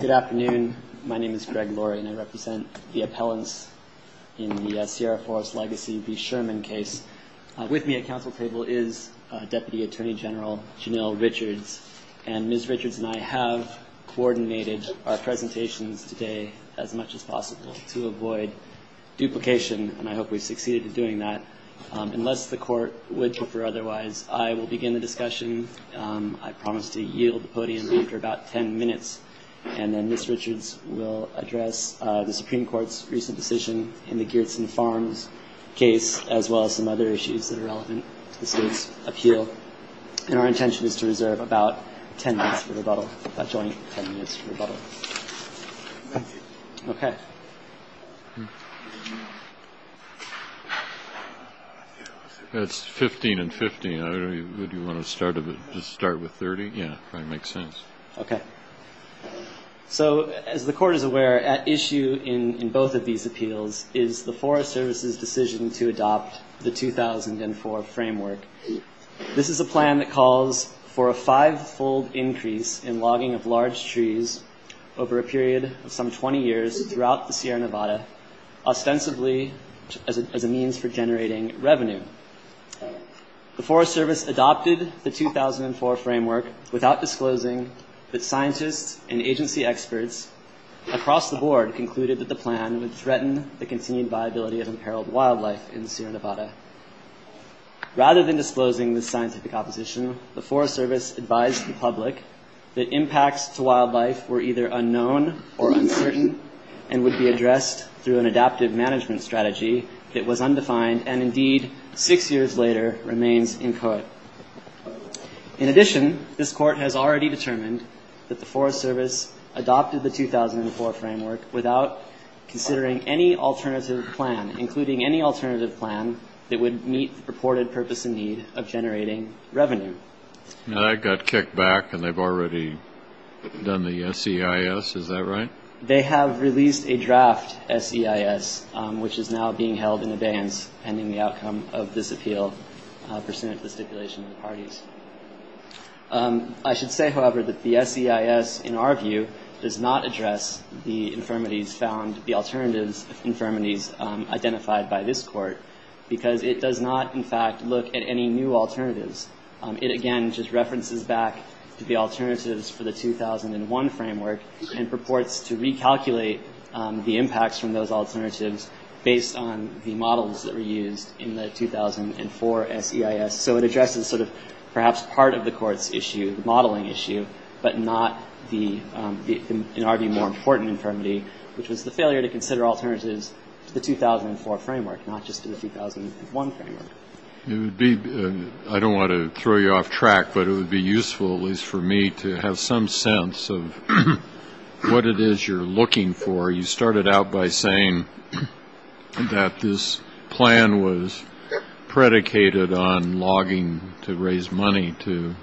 Good afternoon. My name is Greg Laurie and I represent the appellants in the Sierra Forest Legacy v. Sherman case. With me at council table is Deputy Attorney General Janelle Richards. And Ms. Richards and I have coordinated our presentations today as much as possible to avoid duplication, and I hope we've succeeded in doing that. Unless the court would prefer otherwise, I will begin the discussion. I promise to yield the podium after about 10 minutes, and then Ms. Richards will address the Supreme Court's recent decision in the Geertsen Farms case, as well as some other issues that are relevant to the state's appeal. And our intention is to reserve about 10 minutes for rebuttal, a joint 10 minutes for rebuttal. Thank you. Okay. That's 15 and 15. Would you want to start with 30? Yeah, if that makes sense. Okay. So as the court is aware, at issue in both of these appeals is the Forest Service's decision to adopt the 2004 framework. This is a plan that calls for a five-fold increase in logging of large trees over a period of some 20 years throughout the Sierra Nevada, ostensibly as a means for generating revenue. The Forest Service adopted the 2004 framework without disclosing that scientists and agency experts across the board concluded that the plan would threaten the continued viability of imperiled wildlife in the Sierra Nevada. Rather than disclosing the scientific opposition, the Forest Service advised the public that impacts to wildlife were either unknown or uncertain and would be addressed through an adaptive management strategy that was undefined and, indeed, six years later, remains inchoate. In addition, this court has already determined that the Forest Service adopted the 2004 framework without considering any alternative plan, that would meet the purported purpose and need of generating revenue. Now, that got kicked back, and they've already done the SEIS. Is that right? They have released a draft SEIS, which is now being held in abeyance pending the outcome of this appeal, pursuant to the stipulation of the parties. I should say, however, that the SEIS, in our view, does not address the infirmities found, the alternatives of infirmities identified by this court, because it does not, in fact, look at any new alternatives. It, again, just references back to the alternatives for the 2001 framework and purports to recalculate the impacts from those alternatives based on the models that were used in the 2004 SEIS. So it addresses sort of perhaps part of the court's issue, the modeling issue, but not the, in our view, more important infirmity, which was the failure to consider alternatives to the 2004 framework, not just to the 2001 framework. It would be ‑‑ I don't want to throw you off track, but it would be useful, at least for me, to have some sense of what it is you're looking for. You started out by saying that this plan was predicated on logging to raise money to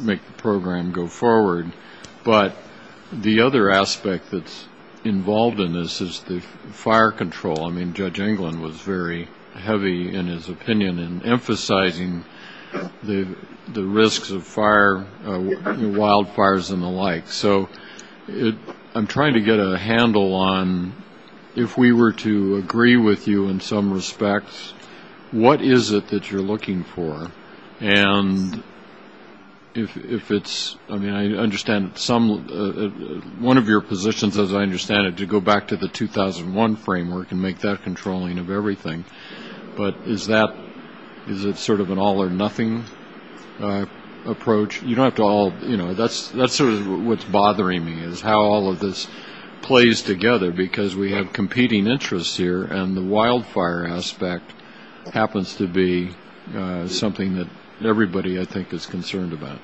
make the program go forward, but the other aspect that's involved in this is the fire control. I mean, Judge Englund was very heavy, in his opinion, in emphasizing the risks of fire, wildfires and the like. So I'm trying to get a handle on, if we were to agree with you in some respects, what is it that you're looking for? And if it's, I mean, I understand some, one of your positions, as I understand it, to go back to the 2001 framework and make that controlling of everything, but is that, is it sort of an all or nothing approach? You don't have to all, you know, that's sort of what's bothering me, is how all of this plays together, because we have competing interests here and the wildfire aspect happens to be something that everybody, I think, is concerned about.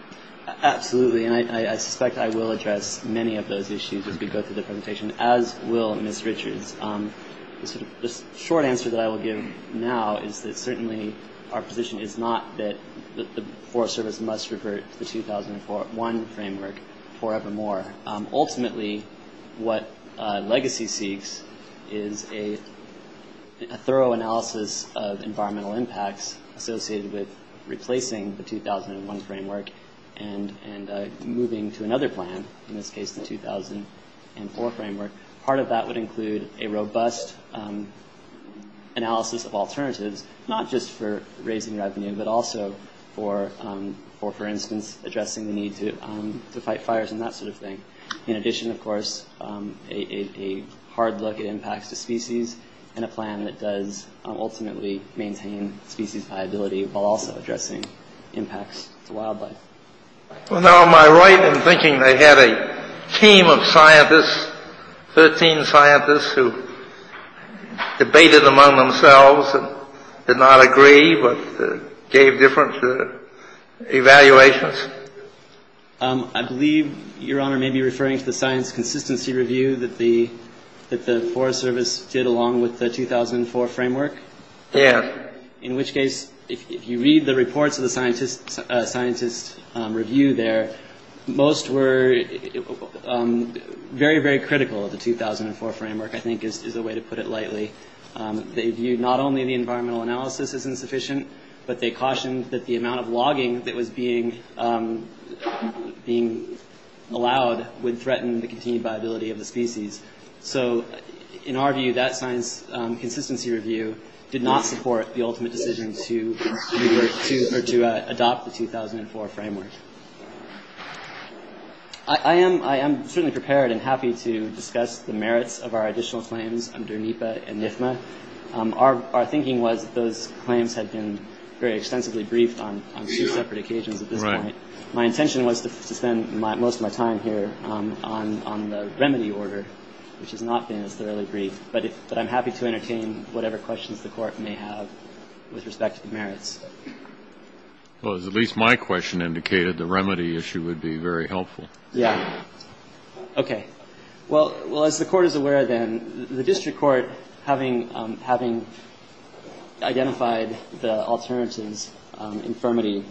Absolutely, and I suspect I will address many of those issues as we go through the presentation, as will Ms. Richards. The short answer that I will give now is that certainly our position is not that the Forest Service must revert to the 2001 framework forevermore. Ultimately, what Legacy seeks is a thorough analysis of environmental impacts associated with replacing the 2001 framework and moving to another plan, in this case the 2004 framework. Part of that would include a robust analysis of alternatives, not just for raising revenue, but also for, for instance, addressing the need to fight fires and that sort of thing. In addition, of course, a hard look at impacts to species and a plan that does ultimately maintain species viability, while also addressing impacts to wildlife. Well, now, am I right in thinking they had a team of scientists, 13 scientists, who debated among themselves and did not agree, but gave different evaluations? I believe, Your Honor, you may be referring to the science consistency review that the Forest Service did along with the 2004 framework? Yes. In which case, if you read the reports of the scientists' review there, most were very, very critical of the 2004 framework, I think is a way to put it lightly. They viewed not only the environmental analysis as insufficient, but they cautioned that the amount of logging that was being allowed would threaten the continued viability of the species. So, in our view, that science consistency review did not support the ultimate decision to adopt the 2004 framework. I am certainly prepared and happy to discuss the merits of our additional claims under NEPA and NIFMA. Our thinking was that those claims had been very extensively briefed on two separate occasions at this point. My intention was to spend most of my time here on the remedy order, which has not been as thoroughly briefed. But I'm happy to entertain whatever questions the Court may have with respect to the merits. Well, as at least my question indicated, the remedy issue would be very helpful. Yeah. Okay. Well, as the Court is aware, then, the district court, having identified the alternatives infirmity,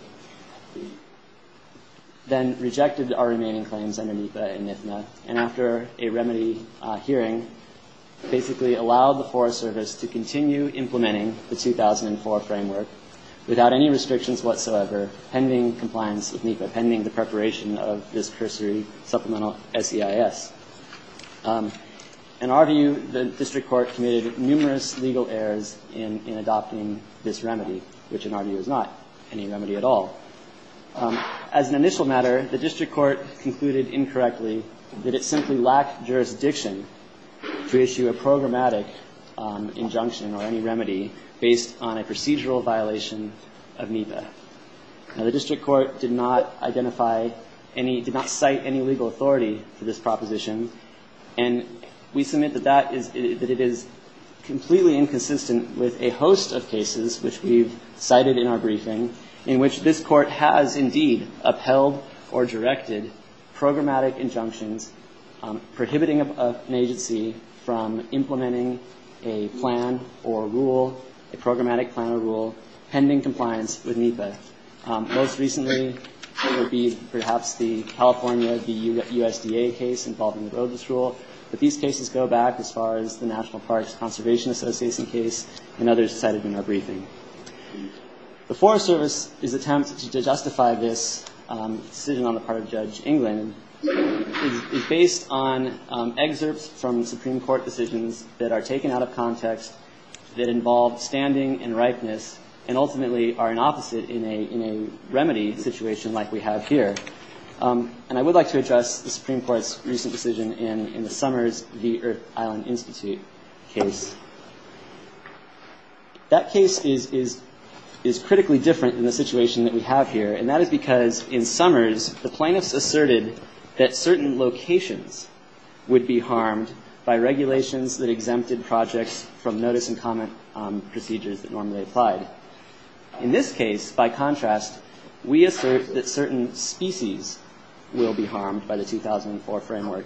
then rejected our remaining claims under NEPA and NIFMA, and after a remedy hearing, basically allowed the Forest Service to continue implementing the 2004 framework without any restrictions whatsoever, pending compliance with NEPA, pending the preparation of this cursory supplemental SEIS. In our view, the district court committed numerous legal errors in adopting this remedy, which in our view is not any remedy at all. As an initial matter, the district court concluded incorrectly that it simply lacked jurisdiction to issue a programmatic injunction or any remedy based on a procedural violation of NEPA. Now, the district court did not identify any, did not cite any legal authority for this proposition, and we submit that that is, that it is completely inconsistent with a host of cases, which we've cited in our briefing, in which this court has indeed upheld or directed programmatic injunctions prohibiting an agency from implementing a plan or rule, a programmatic plan or rule, pending compliance with NEPA. Most recently, it would be perhaps the California, the USDA case involving the roadless rule, but these cases go back as far as the National Parks Conservation Association case, and others cited in our briefing. The Forest Service's attempt to justify this decision on the part of Judge England is based on excerpts from Supreme Court decisions that are taken out of context, that involve standing and ripeness, and ultimately are an opposite in a remedy situation like we have here. And I would like to address the Supreme Court's recent decision in the Summers v. Earth Island Institute case. That case is critically different than the situation that we have here, and that is because in Summers, the plaintiffs asserted that certain locations would be harmed by regulations that exempted projects from notice and comment procedures that normally apply. In this case, by contrast, we assert that certain species will be harmed by the 2004 framework,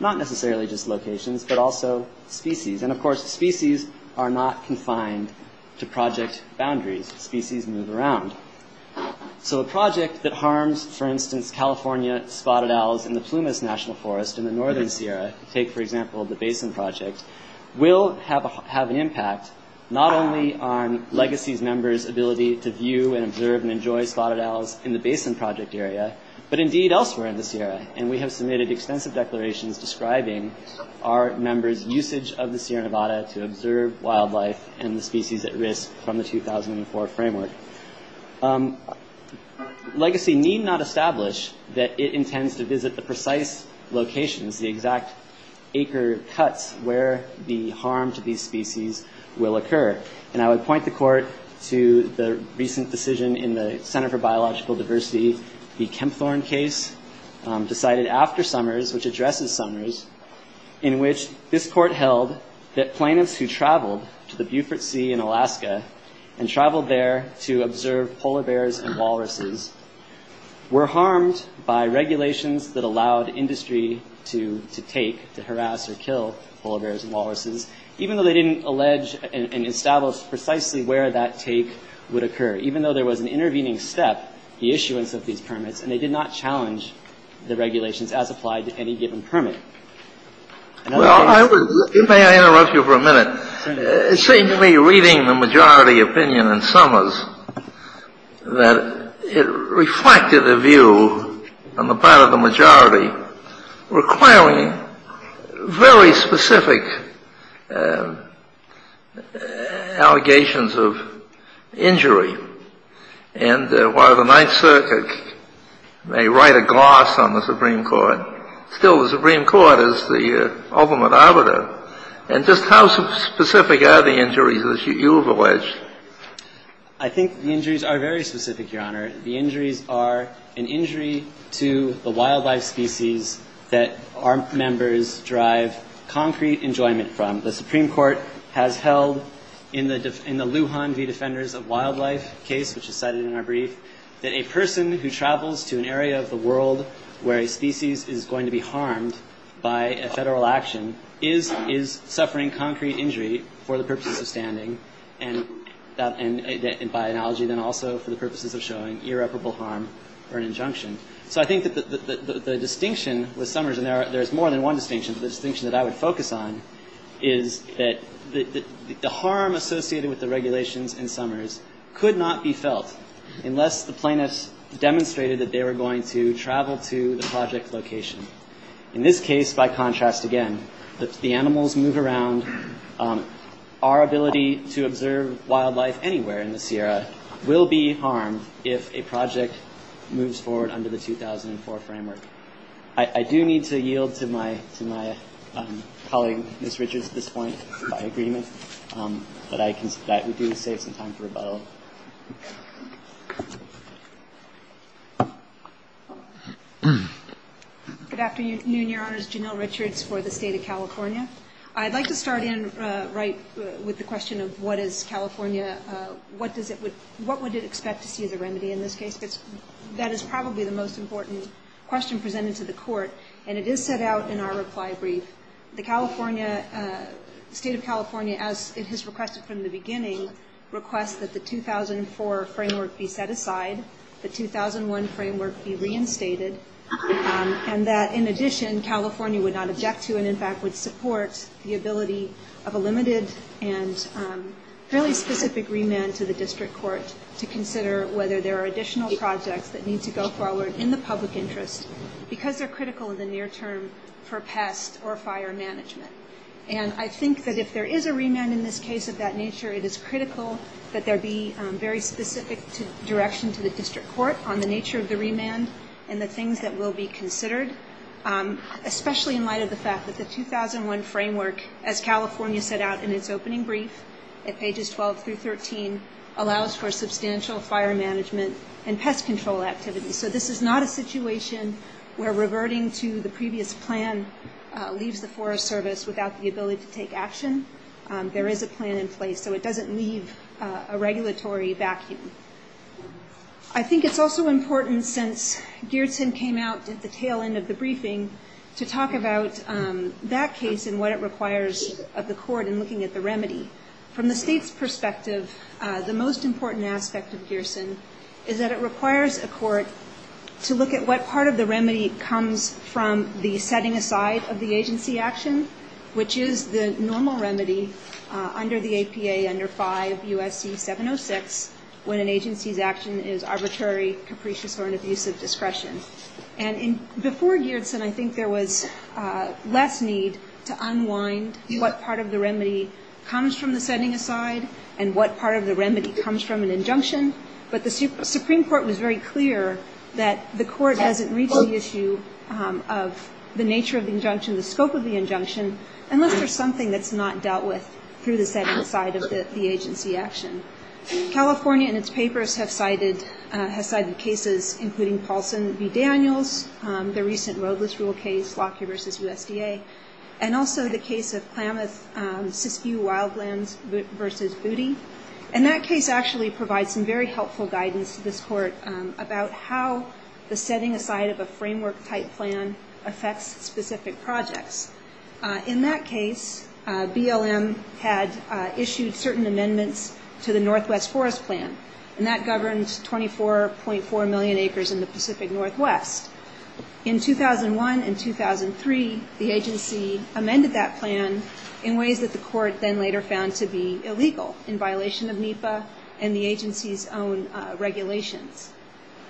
not necessarily just locations, but also species. And of course, species are not confined to project boundaries. Species move around. So a project that harms, for instance, California spotted owls in the Plumas National Forest in the northern Sierra, take for example the Basin Project, will have an impact not only on legacies members' ability to view and observe and enjoy spotted owls in the Basin Project area, but indeed elsewhere in the Sierra. And we have submitted extensive declarations describing our members' usage of the Sierra Nevada to observe wildlife and the species at risk from the 2004 framework. Legacy need not establish that it intends to visit the precise locations, the exact acre cuts where the harm to these species will occur. And I would point the Court to the recent decision in the Center for Biological Diversity, the Kempthorne case, decided after Summers, which addresses Summers, in which this Court held that plaintiffs who traveled to the Beaufort Sea in Alaska and traveled there to observe polar bears and walruses were harmed by regulations that allowed industry to take, to harass or kill polar bears and walruses, even though they didn't allege and establish precisely where that take would occur. Even though there was an intervening step, the issuance of these permits, and they did not challenge the regulations as applied to any given permit. And other things. Well, may I interrupt you for a minute? Certainly. It seemed to me reading the majority opinion in Summers that it reflected a view on the part of the majority requiring very specific allegations of injury. And while the Ninth Circuit may write a gloss on the Supreme Court, still the Supreme Court is the ultimate arbiter. And just how specific are the injuries, as you have alleged? I think the injuries are very specific, Your Honor. The injuries are an injury to the wildlife species that our members derive concrete enjoyment from. The Supreme Court has held in the Lujan v. Defenders of Wildlife case, which is cited in our brief, that a person who travels to an area of the world where a species is going to be harmed by a federal action is suffering concrete injury for the purposes of standing, and by analogy then also for the purposes of showing irreparable harm or an injunction. So I think that the distinction with Summers, and there's more than one distinction, but the distinction that I would focus on is that the harm associated with the regulations in Summers could not be felt unless the plaintiffs demonstrated that they were going to travel to the project location. In this case, by contrast again, the animals move around. Our ability to observe wildlife anywhere in the Sierra will be harmed if a project moves forward under the 2004 framework. I do need to yield to my colleague, Ms. Richards, at this point, by agreement. But I consider that we do save some time for rebuttal. Good afternoon, Your Honors. Janelle Richards for the State of California. I'd like to start in right with the question of what is California, what would it expect to see as a remedy in this case? That is probably the most important question presented to the Court, and it is set out in our reply brief. The State of California, as it has requested from the beginning, requests that the 2004 framework be set aside, the 2001 framework be reinstated, and that, in addition, California would not object to and, in fact, would support the ability of a limited and fairly specific remand to the district court to consider whether there are additional projects that need to go forward in the public interest because they're critical in the near term for pest or fire management. And I think that if there is a remand in this case of that nature, it is critical that there be very specific direction to the district court on the nature of the remand and the things that will be considered, especially in light of the fact that the 2001 framework, as California set out in its opening brief at pages 12 through 13, allows for substantial fire management and pest control activities. So this is not a situation where reverting to the previous plan leaves the Forest Service without the ability to take action. There is a plan in place, so it doesn't leave a regulatory vacuum. I think it's also important, since Geertsen came out at the tail end of the briefing, to talk about that case and what it requires of the court in looking at the remedy. From the State's perspective, the most important aspect of Geertsen is that it requires a court to look at what part of the remedy comes from the setting aside of the agency action, which is the normal remedy under the APA under 5 U.S.C. 706, when an agency's action is arbitrary, capricious, or an abuse of discretion. Before Geertsen, I think there was less need to unwind what part of the remedy comes from the setting aside and what part of the remedy comes from an injunction, but the Supreme Court was very clear that the court hasn't reached the issue of the nature of the injunction, the scope of the injunction, unless there's something that's not dealt with through the setting aside of the agency action. California, in its papers, has cited cases including Paulson v. Daniels, the recent roadless rule case, Lockyer v. USDA, and also the case of Klamath-Siskiyou Wildlands v. Booty, and that case actually provides some very helpful guidance to this court about how the setting aside of a framework-type plan affects specific projects. In that case, BLM had issued certain amendments to the Northwest Forest Plan, and that governed 24.4 million acres in the Pacific Northwest. In 2001 and 2003, the agency amended that plan in ways that the court then later found to be illegal, in violation of NEPA and the agency's own regulations.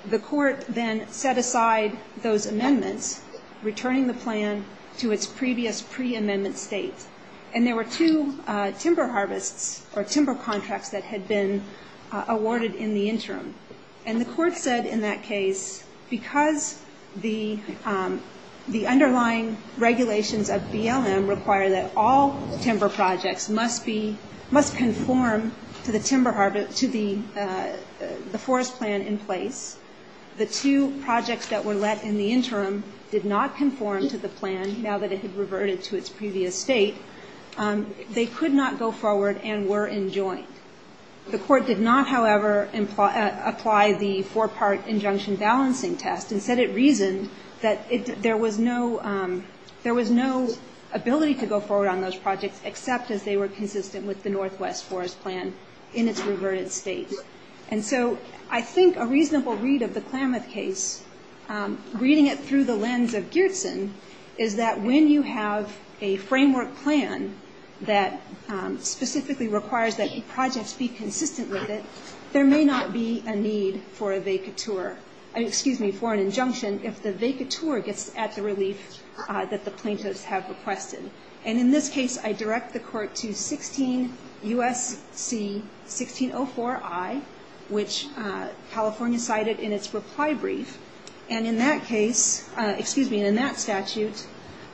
The court then set aside those amendments, returning the plan to its previous pre-amendment state, and there were two timber harvests, or timber contracts, that had been awarded in the interim. And the court said in that case, because the underlying regulations of BLM require that all timber projects must conform to the timber harvest, to the forest plan in place, the two projects that were let in the interim did not conform to the plan, now that it had reverted to its previous state, they could not go forward and were enjoined. The court did not, however, apply the four-part injunction balancing test, and said it reasoned that there was no ability to go forward on those projects, except as they were consistent with the Northwest Forest Plan in its reverted state. And so I think a reasonable read of the Klamath case, reading it through the lens of Geertsen, is that when you have a framework plan that specifically requires that projects be consistent with it, there may not be a need for a vacatur, excuse me, for an injunction, if the vacatur gets at the relief that the plaintiffs have requested. And in this case, I direct the court to 16 U.S.C. 1604I, which California cited in its reply brief. And in that case, excuse me, in that statute,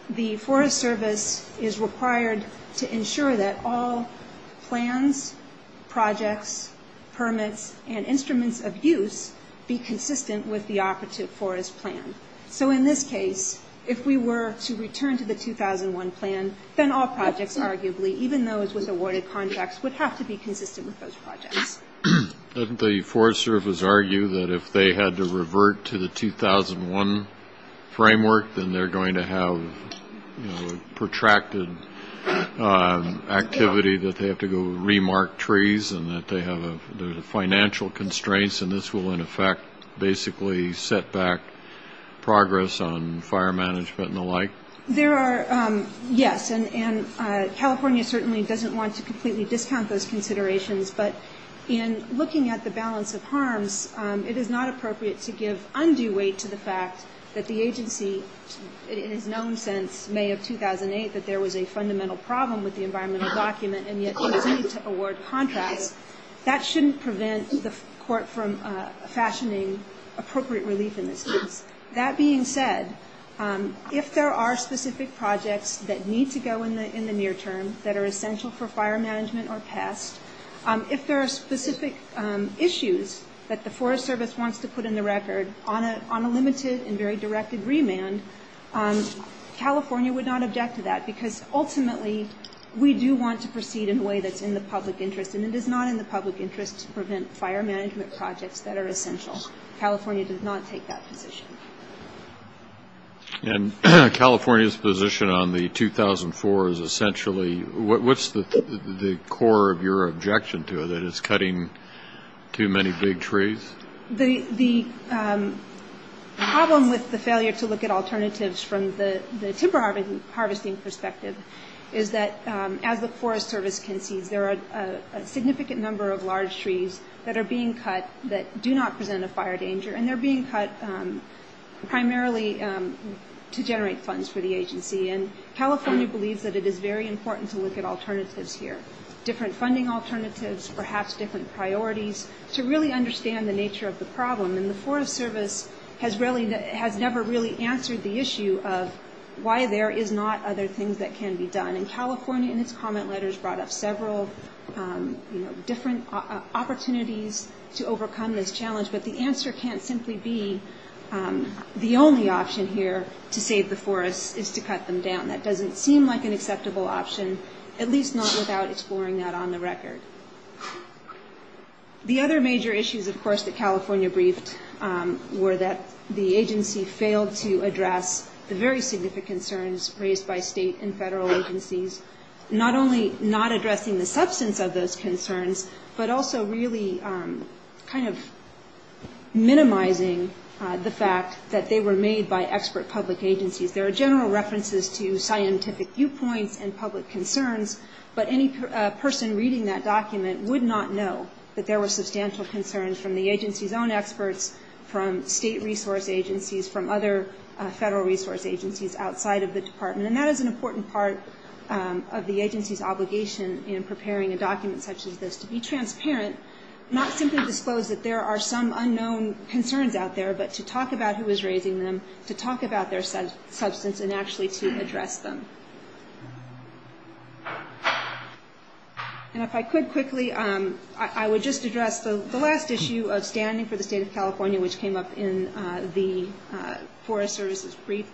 the Forest Service is required to ensure that all plans, projects, permits, and instruments of use be consistent with the operative forest plan. So in this case, if we were to return to the 2001 plan, then all projects, arguably, even those with awarded contracts, would have to be consistent with those projects. Doesn't the Forest Service argue that if they had to revert to the 2001 framework, then they're going to have protracted activity, that they have to go re-mark trees, and that they have financial constraints, and this will, in effect, basically set back progress on fire management and the like? There are, yes, and California certainly doesn't want to completely discount those considerations, but in looking at the balance of harms, it is not appropriate to give undue weight to the fact that the agency has known since May of 2008 that there was a fundamental problem with the environmental document, and yet there was a need to award contracts. That shouldn't prevent the court from fashioning appropriate relief in this case. That being said, if there are specific projects that need to go in the near term, that are essential for fire management or pest, if there are specific issues that the Forest Service wants to put in the record on a limited and very directed remand, California would not object to that, because ultimately we do want to proceed in a way that's in the public interest, and it is not in the public interest to prevent fire management projects that are essential. California does not take that position. And California's position on the 2004 is essentially what's the core of your objection to it, that it's cutting too many big trees? The problem with the failure to look at alternatives from the timber harvesting perspective is that as the Forest Service concedes, there are a significant number of large trees that are being cut that do not present a fire danger, and they're being cut primarily to generate funds for the agency. And California believes that it is very important to look at alternatives here, different funding alternatives, perhaps different priorities, to really understand the nature of the problem. And the Forest Service has never really answered the issue of why there is not other things that can be done. And California in its comment letters brought up several different opportunities to overcome this challenge, but the answer can't simply be the only option here to save the forests is to cut them down. That doesn't seem like an acceptable option, at least not without exploring that on the record. The other major issues, of course, that California briefed were that the agency failed to address the very significant concerns raised by state and federal agencies, not only not addressing the substance of those concerns, but also really kind of minimizing the fact that they were made by expert public agencies. There are general references to scientific viewpoints and public concerns, but any person reading that document would not know that there were substantial concerns from the agency's own experts, from state resource agencies, from other federal resource agencies outside of the department. And that is an important part of the agency's obligation in preparing a document such as this, to be transparent, not simply disclose that there are some unknown concerns out there, but to talk about who is raising them, to talk about their substance, and actually to address them. And if I could quickly, I would just address the last issue of standing for the state of California, which came up in the Forest Service's brief.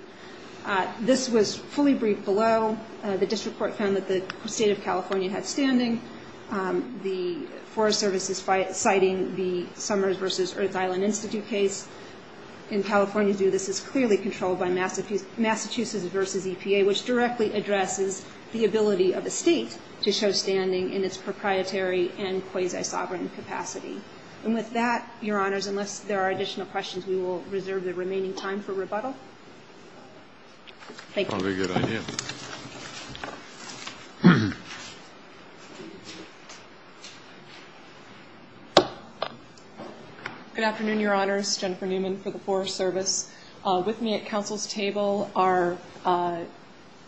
This was fully briefed below. The district court found that the state of California had standing. The Forest Service is citing the Summers v. Earth Island Institute case. In California, this is clearly controlled by Massachusetts v. EPA, which directly addresses the ability of a state to show standing in its proprietary and quasi-sovereign capacity. And with that, Your Honors, unless there are additional questions, we will reserve the remaining time for rebuttal. Thank you. Probably a good idea. Good afternoon, Your Honors. Jennifer Newman for the Forest Service. With me at Council's table are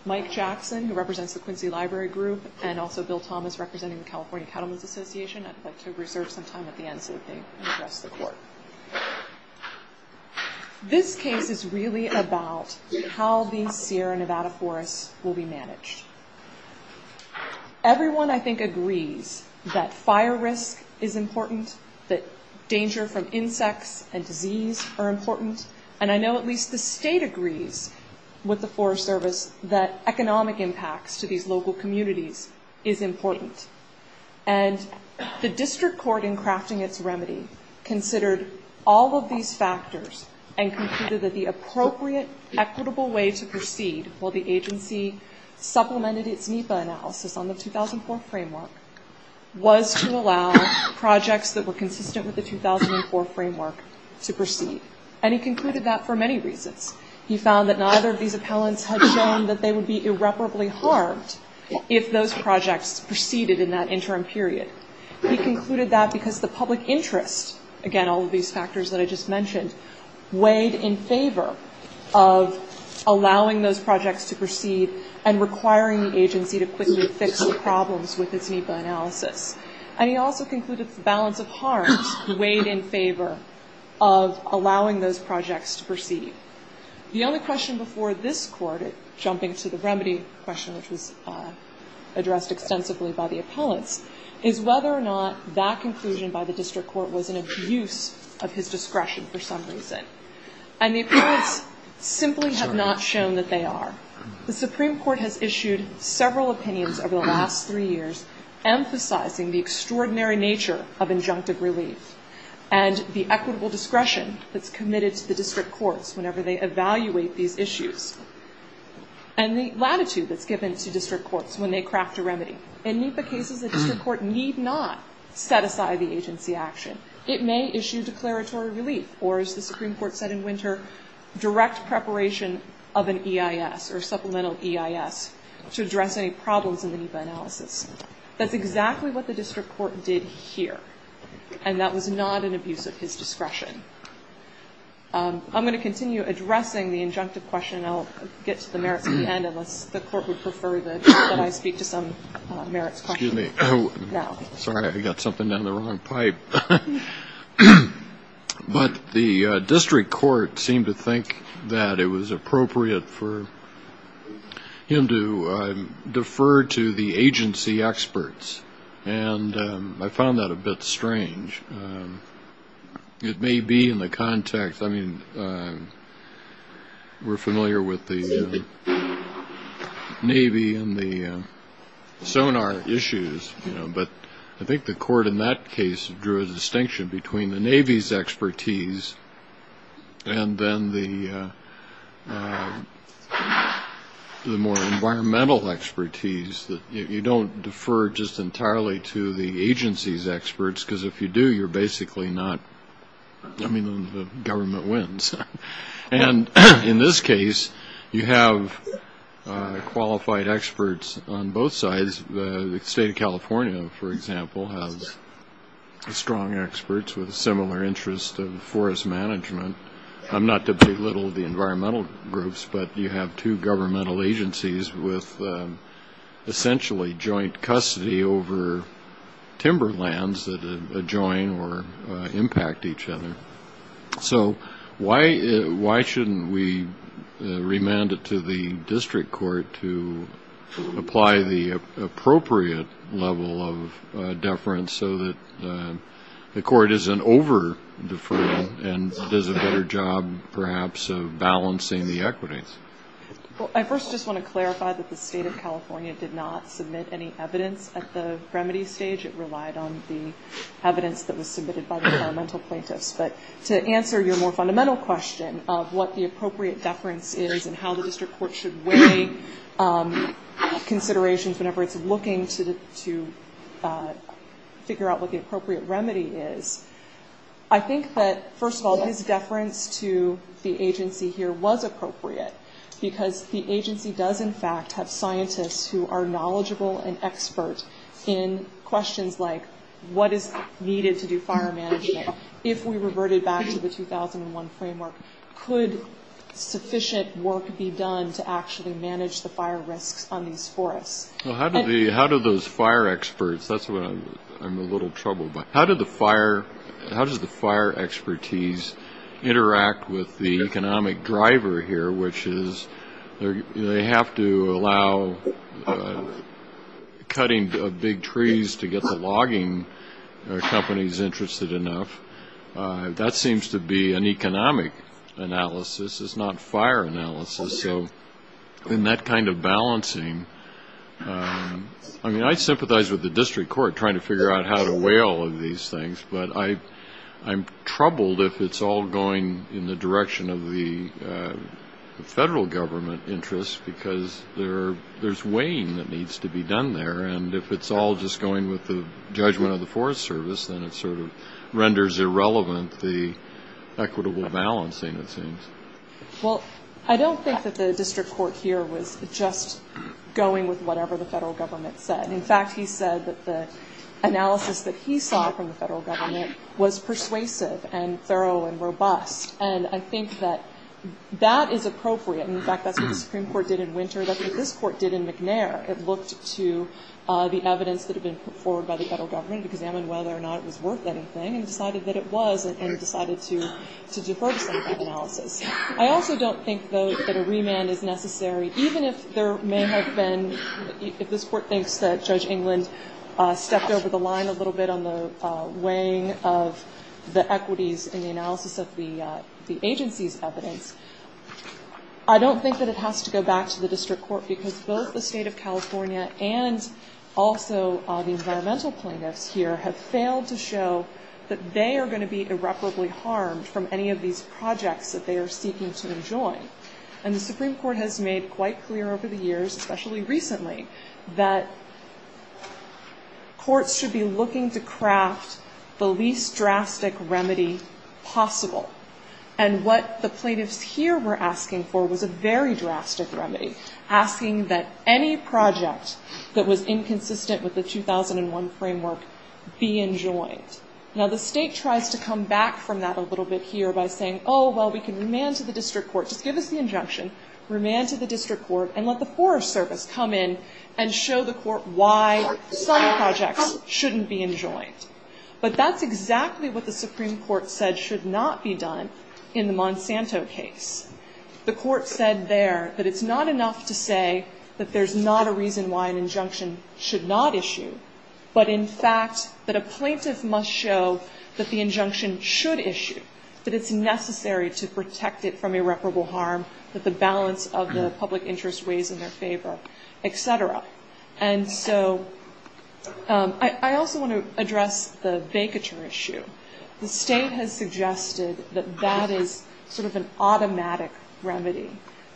Mike Jackson, who represents the Quincy Library Group, and also Bill Thomas, representing the California Cattlemen's Association. I'd like to reserve some time at the end so that they can address the court. This case is really about how these Sierra Nevada forests will be managed. Everyone, I think, agrees that fire risk is important, that danger from insects and disease are important, and I know at least the state agrees with the Forest Service that economic impacts to these local communities is important. And the district court, in crafting its remedy, considered all of these factors and concluded that the appropriate equitable way to proceed, while the agency supplemented its NEPA analysis on the 2004 framework, was to allow projects that were consistent with the 2004 framework to proceed. And he concluded that for many reasons. He found that neither of these appellants had shown that they would be irreparably harmed if those projects proceeded in that interim period. He concluded that because the public interest, again, all of these factors that I just mentioned, weighed in favor of allowing those projects to proceed and requiring the agency to quickly fix the problems with its NEPA analysis. And he also concluded the balance of harms weighed in favor of allowing those projects to proceed. The only question before this court, jumping to the remedy question, which was addressed extensively by the appellants, is whether or not that conclusion by the district court was an abuse of his discretion for some reason. And the appellants simply have not shown that they are. The Supreme Court has issued several opinions over the last three years emphasizing the extraordinary nature of injunctive relief and the equitable discretion that's committed to the district courts whenever they evaluate these issues. And the latitude that's given to district courts when they craft a remedy. In NEPA cases, the district court need not set aside the agency action. It may issue declaratory relief or, as the Supreme Court said in winter, direct preparation of an EIS or supplemental EIS to address any problems in the NEPA analysis. That's exactly what the district court did here. And that was not an abuse of his discretion. I'm going to continue addressing the injunctive question. I'll get to the merits at the end, unless the court would prefer that I speak to some merits questions now. Excuse me. Sorry, I got something down the wrong pipe. But the district court seemed to think that it was appropriate for him to defer to the agency experts. And I found that a bit strange. It may be in the context. I mean, we're familiar with the Navy and the sonar issues. But I think the court in that case drew a distinction between the Navy's expertise and then the more environmental expertise. You don't defer just entirely to the agency's experts, because if you do, you're basically not. I mean, the government wins. And in this case, you have qualified experts on both sides. The state of California, for example, has strong experts with a similar interest of forest management. I'm not to belittle the environmental groups, but you have two governmental agencies with essentially joint custody over timber lands that adjoin or impact each other. So why shouldn't we remand it to the district court to apply the appropriate level of deference so that the court isn't over-deferring and does a better job, perhaps, of balancing the equities? Well, I first just want to clarify that the state of California did not submit any evidence at the remedy stage. It relied on the evidence that was submitted by the environmental plaintiffs. But to answer your more fundamental question of what the appropriate deference is and how the district court should weigh considerations whenever it's looking to figure out what the appropriate remedy is, I think that, first of all, his deference to the agency here was appropriate, because the agency does, in fact, have scientists who are knowledgeable and expert in questions like, what is needed to do fire management? If we reverted back to the 2001 framework, could sufficient work be done to actually manage the fire risks on these forests? Well, how do those fire experts, that's what I'm a little troubled by, how does the fire expertise interact with the economic driver here, which is they have to allow cutting big trees to get the logging companies interested enough. That seems to be an economic analysis. It's not fire analysis. So in that kind of balancing, I mean, I sympathize with the district court trying to figure out how to weigh all of these things, but I'm troubled if it's all going in the direction of the federal government interest, because there's weighing that needs to be done there. And if it's all just going with the judgment of the Forest Service, then it sort of renders irrelevant the equitable balancing, it seems. Well, I don't think that the district court here was just going with whatever the federal government said. In fact, he said that the analysis that he saw from the federal government was persuasive and thorough and robust. And I think that that is appropriate. In fact, that's what the Supreme Court did in Winter, that's what this court did in McNair. It looked to the evidence that had been put forward by the federal government, examined whether or not it was worth anything, and decided that it was, and decided to defer to some of that analysis. I also don't think, though, that a remand is necessary, even if there may have been, if this court thinks that Judge England stepped over the line a little bit on the weighing of the equities in the analysis of the agency's evidence. I don't think that it has to go back to the district court, because both the State of California and also the environmental plaintiffs here have failed to show that they are going to be irreparably harmed from any of these projects that they are seeking to enjoin. And the Supreme Court has made quite clear over the years, especially recently, that courts should be looking to craft the least drastic remedy possible. And what the plaintiffs here were asking for was a very drastic remedy, asking that any project that was inconsistent with the 2001 framework be enjoined. Now, the state tries to come back from that a little bit here by saying, oh, well, we can remand to the district court, just give us the injunction, remand to the district court, and let the Forest Service come in and show the court why some projects shouldn't be enjoined. But that's exactly what the Supreme Court said should not be done in the Monsanto case. The court said there that it's not enough to say that there's not a reason why an injunction should not issue, but in fact that a plaintiff must show that the injunction should issue, that it's necessary to protect it from irreparable harm, that the balance of the public interest weighs in their favor, et cetera. And so I also want to address the vacature issue. The state has suggested that that is sort of an automatic remedy,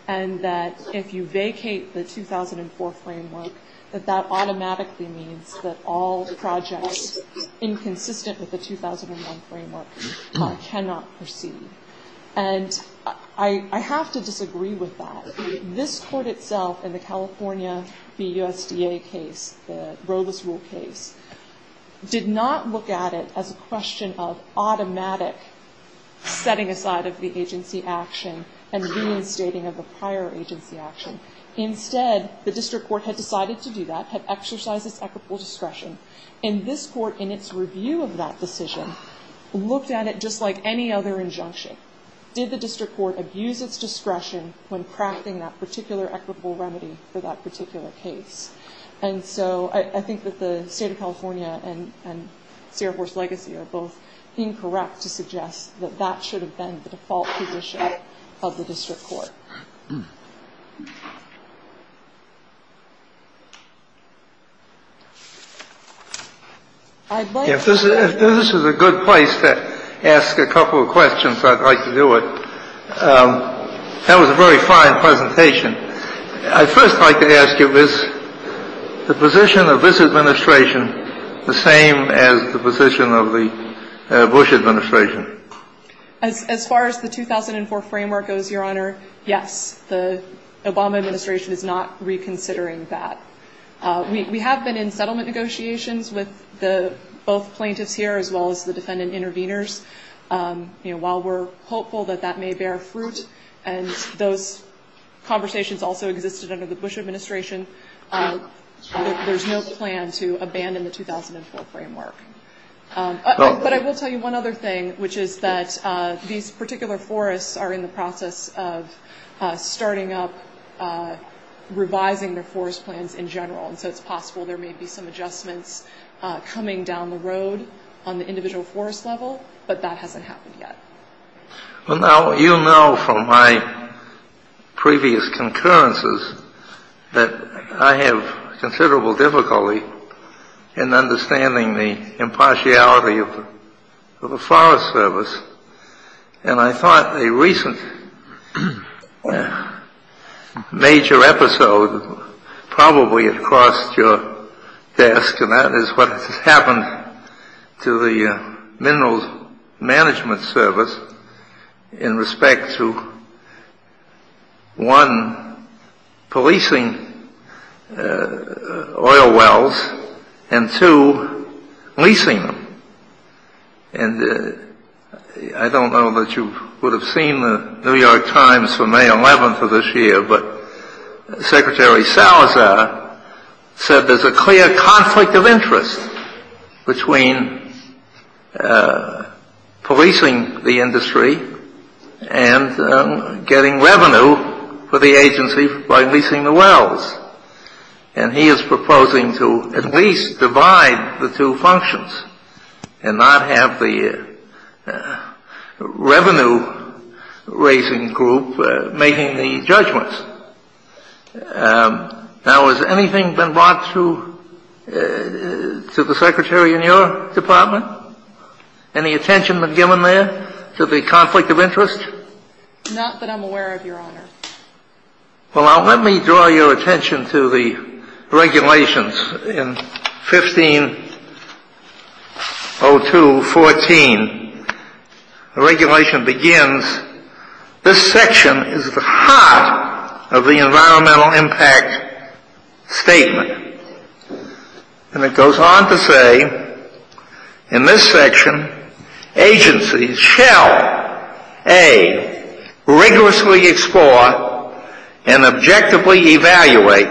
and that if you vacate the 2004 framework, that that automatically means that all projects inconsistent with the 2001 framework cannot proceed. And I have to disagree with that. This court itself in the California BUSDA case, the Rowless Rule case, did not look at it as a question of automatic setting aside of the agency action and reinstating of the prior agency action. Instead, the district court had decided to do that, had exercised its equitable discretion. And this court in its review of that decision looked at it just like any other injunction. Did the district court abuse its discretion when crafting that particular equitable remedy for that particular case? And so I think that the state of California and Sierra Force Legacy are both incorrect to suggest that that should have been the default position of the district court. I'd like to ask you a question. If this is a good place to ask a couple of questions, I'd like to do it. That was a very fine presentation. I'd first like to ask you, is the position of this administration the same as the position of the Bush administration? As far as the 2004 framework goes, Your Honor, yes. The Obama administration is not reconsidering that. We have been in settlement negotiations with both plaintiffs here as well as the defendant interveners. While we're hopeful that that may bear fruit, and those conversations also existed under the Bush administration, there's no plan to abandon the 2004 framework. But I will tell you one other thing, which is that these particular forests are in the process of starting up, revising their forest plans in general. And so it's possible there may be some adjustments coming down the road on the individual forest level, but that hasn't happened yet. Well, now, you know from my previous concurrences that I have considerable difficulty in understanding the impartiality of the Forest Service. And I thought a recent major episode probably had crossed your desk, and that is what has happened to the Minerals Management Service in respect to, one, policing oil wells, and two, leasing them. And I don't know that you would have seen the New York Times for May 11th of this year, but Secretary Salazar said there's a clear conflict of interest between policing the industry and getting revenue for the agency by leasing the wells. And he is proposing to at least divide the two functions and not have the revenue-raising group making the judgments. Now, has anything been brought to the Secretary in your department? Any attention been given there to the conflict of interest? Not that I'm aware of, Your Honor. Well, now, let me draw your attention to the regulations in 1502.14. The regulation begins, This section is the heart of the environmental impact statement. And it goes on to say, In this section, agencies shall, A, rigorously explore and objectively evaluate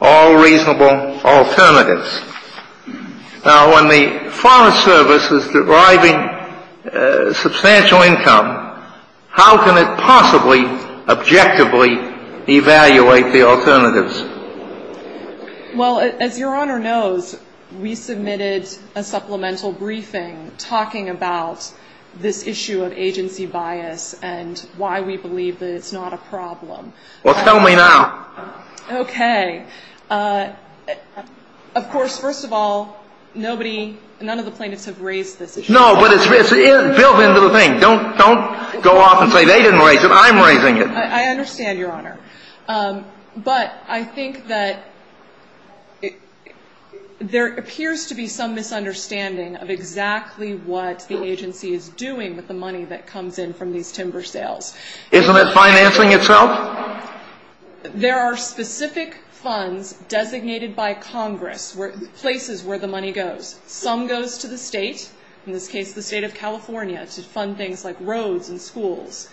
all reasonable alternatives. Now, when the Forest Service is deriving substantial income, how can it possibly objectively evaluate the alternatives? Well, as Your Honor knows, we submitted a supplemental briefing talking about this issue of agency bias and why we believe that it's not a problem. Well, tell me now. Okay. Of course, first of all, nobody, none of the plaintiffs have raised this issue. No, but it's built into the thing. Don't go off and say they didn't raise it. I'm raising it. I understand, Your Honor. But I think that there appears to be some misunderstanding of exactly what the agency is doing with the money that comes in from these timber sales. Isn't it financing itself? There are specific funds designated by Congress, places where the money goes. Some goes to the state, in this case the state of California, to fund things like roads and schools.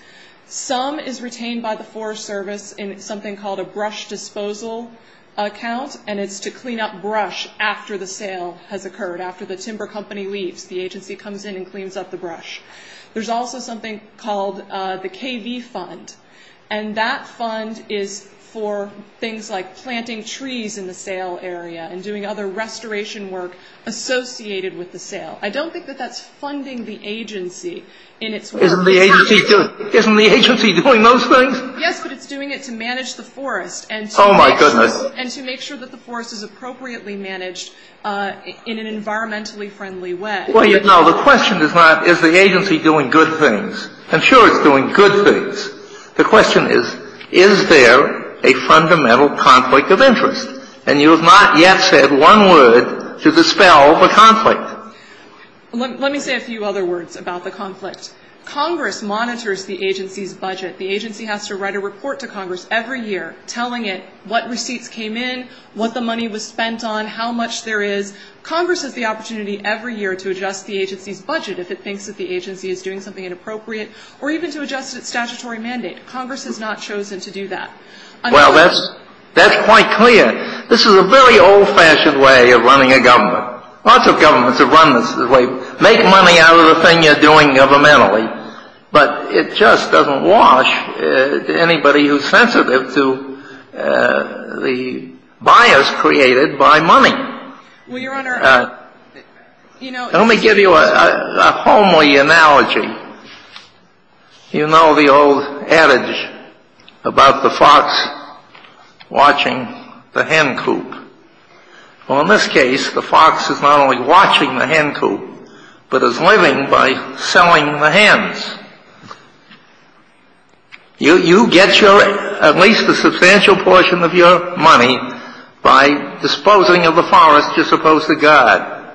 Some is retained by the Forest Service in something called a brush disposal account, and it's to clean up brush after the sale has occurred, after the timber company leaves. The agency comes in and cleans up the brush. There's also something called the KV Fund, and that fund is for things like planting trees in the sale area and doing other restoration work associated with the sale. I don't think that that's funding the agency in its work. Isn't the agency doing those things? Yes, but it's doing it to manage the forest. Oh, my goodness. And to make sure that the forest is appropriately managed in an environmentally friendly way. No, the question is not is the agency doing good things. I'm sure it's doing good things. The question is, is there a fundamental conflict of interest? And you have not yet said one word to dispel the conflict. Let me say a few other words about the conflict. Congress monitors the agency's budget. The agency has to write a report to Congress every year telling it what receipts came in, what the money was spent on, how much there is. Congress has the opportunity every year to adjust the agency's budget if it thinks that the agency is doing something inappropriate, or even to adjust its statutory mandate. Congress has not chosen to do that. Well, that's quite clear. This is a very old-fashioned way of running a government. Lots of governments have run this way. Make money out of the thing you're doing governmentally. But it just doesn't wash anybody who's sensitive to the bias created by money. Well, Your Honor, you know — Let me give you a homely analogy. You know the old adage about the fox watching the hen coop. Well, in this case, the fox is not only watching the hen coop, but is living by selling the hens. You get your — at least a substantial portion of your money by disposing of the forest you're supposed to guard.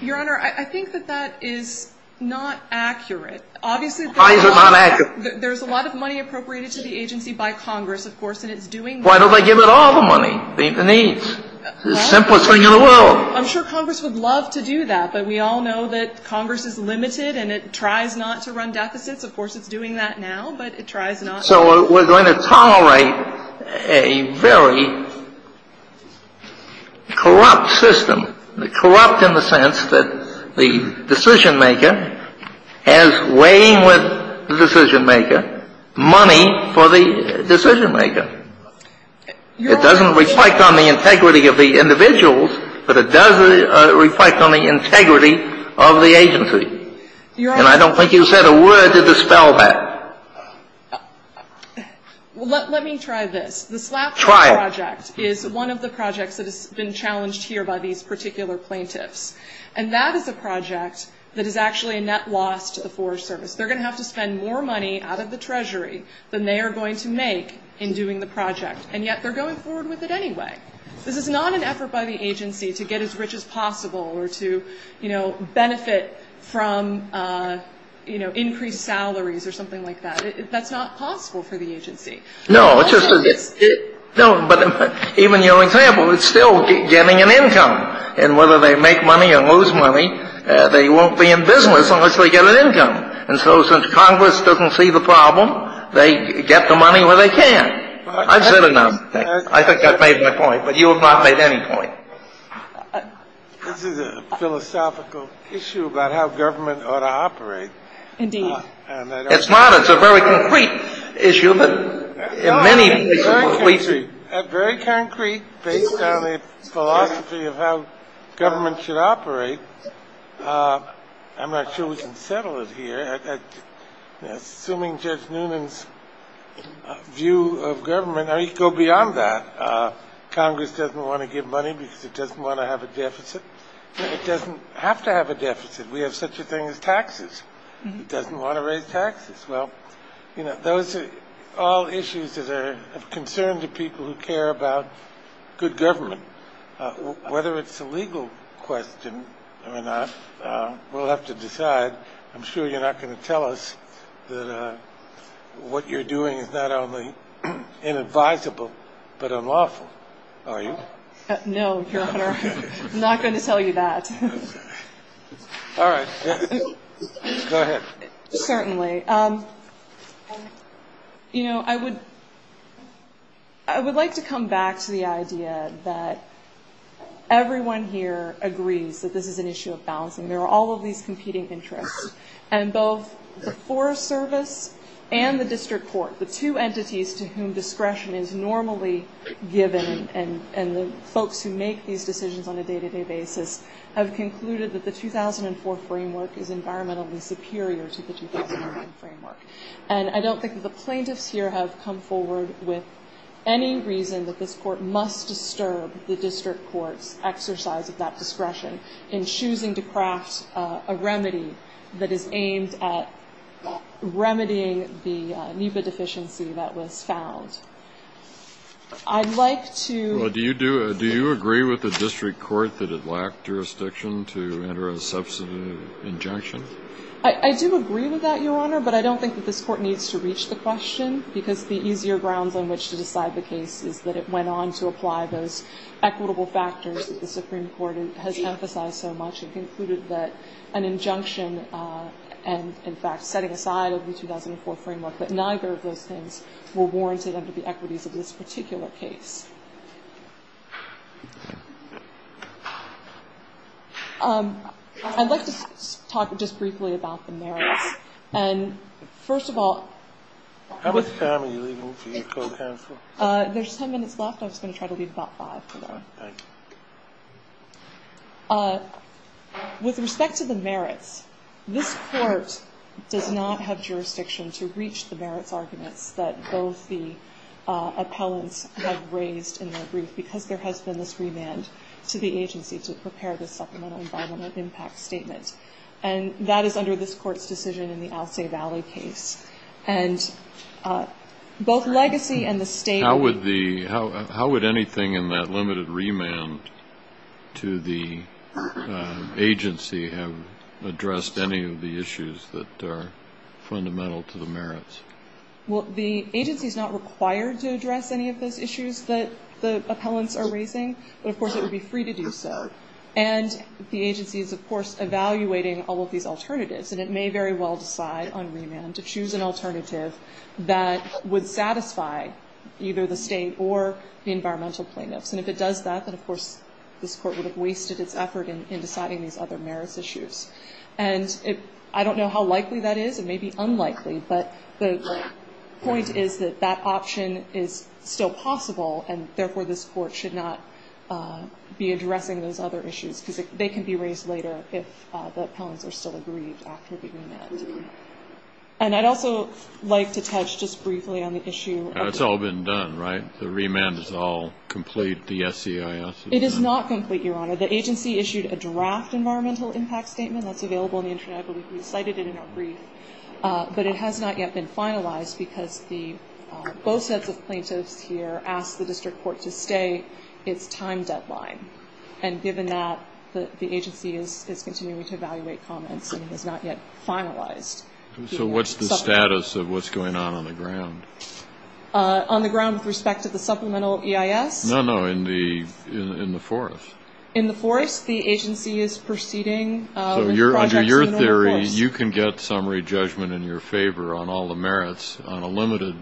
Your Honor, I think that that is not accurate. Obviously, there's a lot of money appropriated to the agency by Congress, of course, and it's doing that. Why don't they give it all the money, the needs? It's the simplest thing in the world. I'm sure Congress would love to do that, but we all know that Congress is limited and it tries not to run deficits. Of course, it's doing that now, but it tries not to. So we're going to tolerate a very corrupt system. Corrupt in the sense that the decisionmaker has, weighing with the decisionmaker, money for the decisionmaker. It doesn't reflect on the integrity of the individuals, but it does reflect on the integrity of the agency. And I don't think you said a word to dispel that. Well, let me try this. Try it. This project is one of the projects that has been challenged here by these particular plaintiffs, and that is a project that is actually a net loss to the Forest Service. They're going to have to spend more money out of the Treasury than they are going to make in doing the project, and yet they're going forward with it anyway. This is not an effort by the agency to get as rich as possible or to, you know, benefit from, you know, increased salaries or something like that. That's not possible for the agency. No. But even your example, it's still getting an income. And whether they make money or lose money, they won't be in business unless they get an income. And so since Congress doesn't see the problem, they get the money where they can. I've said enough. I think I've made my point, but you have not made any point. This is a philosophical issue about how government ought to operate. Indeed. It's not. It's a very concrete issue. But in many cases, the police are. Very concrete, based on a philosophy of how government should operate. I'm not sure we can settle it here. Assuming Judge Noonan's view of government, I mean, go beyond that. Congress doesn't want to give money because it doesn't want to have a deficit. It doesn't have to have a deficit. We have such a thing as taxes. It doesn't want to raise taxes. Well, you know, those are all issues that are of concern to people who care about good government. Whether it's a legal question or not, we'll have to decide. I'm sure you're not going to tell us that what you're doing is not only inadvisable but unlawful, are you? No, Your Honor. I'm not going to tell you that. All right. Go ahead. Certainly. You know, I would like to come back to the idea that everyone here agrees that this is an issue of balancing. There are all of these competing interests. And both the Forest Service and the district court, the two entities to whom discretion is normally given, and the folks who make these decisions on a day-to-day basis, have concluded that the 2004 framework is environmentally superior to the 2009 framework. And I don't think that the plaintiffs here have come forward with any reason that this court must disturb the district court's exercise of that discretion in choosing to craft a remedy that is aimed at remedying the NEPA deficiency that was found. I'd like to ---- Well, do you agree with the district court that it lacked jurisdiction to enter a substantive injunction? I do agree with that, Your Honor. But I don't think that this court needs to reach the question because the easier grounds on which to decide the case is that it went on to apply those equitable factors that the Supreme Court has emphasized so much. It concluded that an injunction and, in fact, setting aside of the 2004 framework, that neither of those things were warranted under the equities of this particular case. I'd like to talk just briefly about the merits. And first of all ---- How much time are you leaving for your co-counsel? There's ten minutes left. I was going to try to leave about five for now. All right. Thank you. With respect to the merits, this Court does not have jurisdiction to reach the merits arguments that both the appellants have raised in their brief because there has been this remand to the agency to prepare this supplemental environmental impact statement. And that is under this Court's decision in the Alcea Valley case. And both legacy and the state ---- How would anything in that limited remand to the agency have addressed any of the issues that are fundamental to the merits? Well, the agency is not required to address any of those issues that the appellants are raising. But, of course, it would be free to do so. And the agency is, of course, evaluating all of these alternatives. And it may very well decide on remand to choose an alternative that would satisfy either the state or the environmental plaintiffs. And if it does that, then, of course, this Court would have wasted its effort in deciding these other merits issues. And I don't know how likely that is. It may be unlikely. But the point is that that option is still possible, and, therefore, this Court should not be addressing those other issues because they can be raised later if the appellants are still aggrieved after the remand. And I'd also like to touch just briefly on the issue of ---- It's all been done, right? The remand is all complete. The SEIS is done. It is not complete, Your Honor. The agency issued a draft environmental impact statement that's available on the Internet. I believe we cited it in our brief. But it has not yet been finalized because both sets of plaintiffs here asked the district court to stay its time deadline. And given that, the agency is continuing to evaluate comments and has not yet finalized. So what's the status of what's going on on the ground? On the ground with respect to the supplemental EIS? No, no, in the forest. In the forest, the agency is proceeding. So under your theory, you can get summary judgment in your favor on all the merits on a limited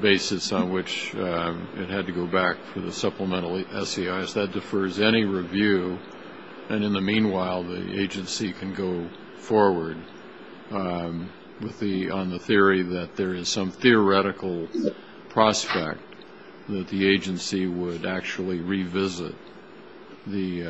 basis on which it had to go back for the supplemental SEIS. That defers any review. And in the meanwhile, the agency can go forward on the theory that there is some theoretical prospect that the agency would actually revisit the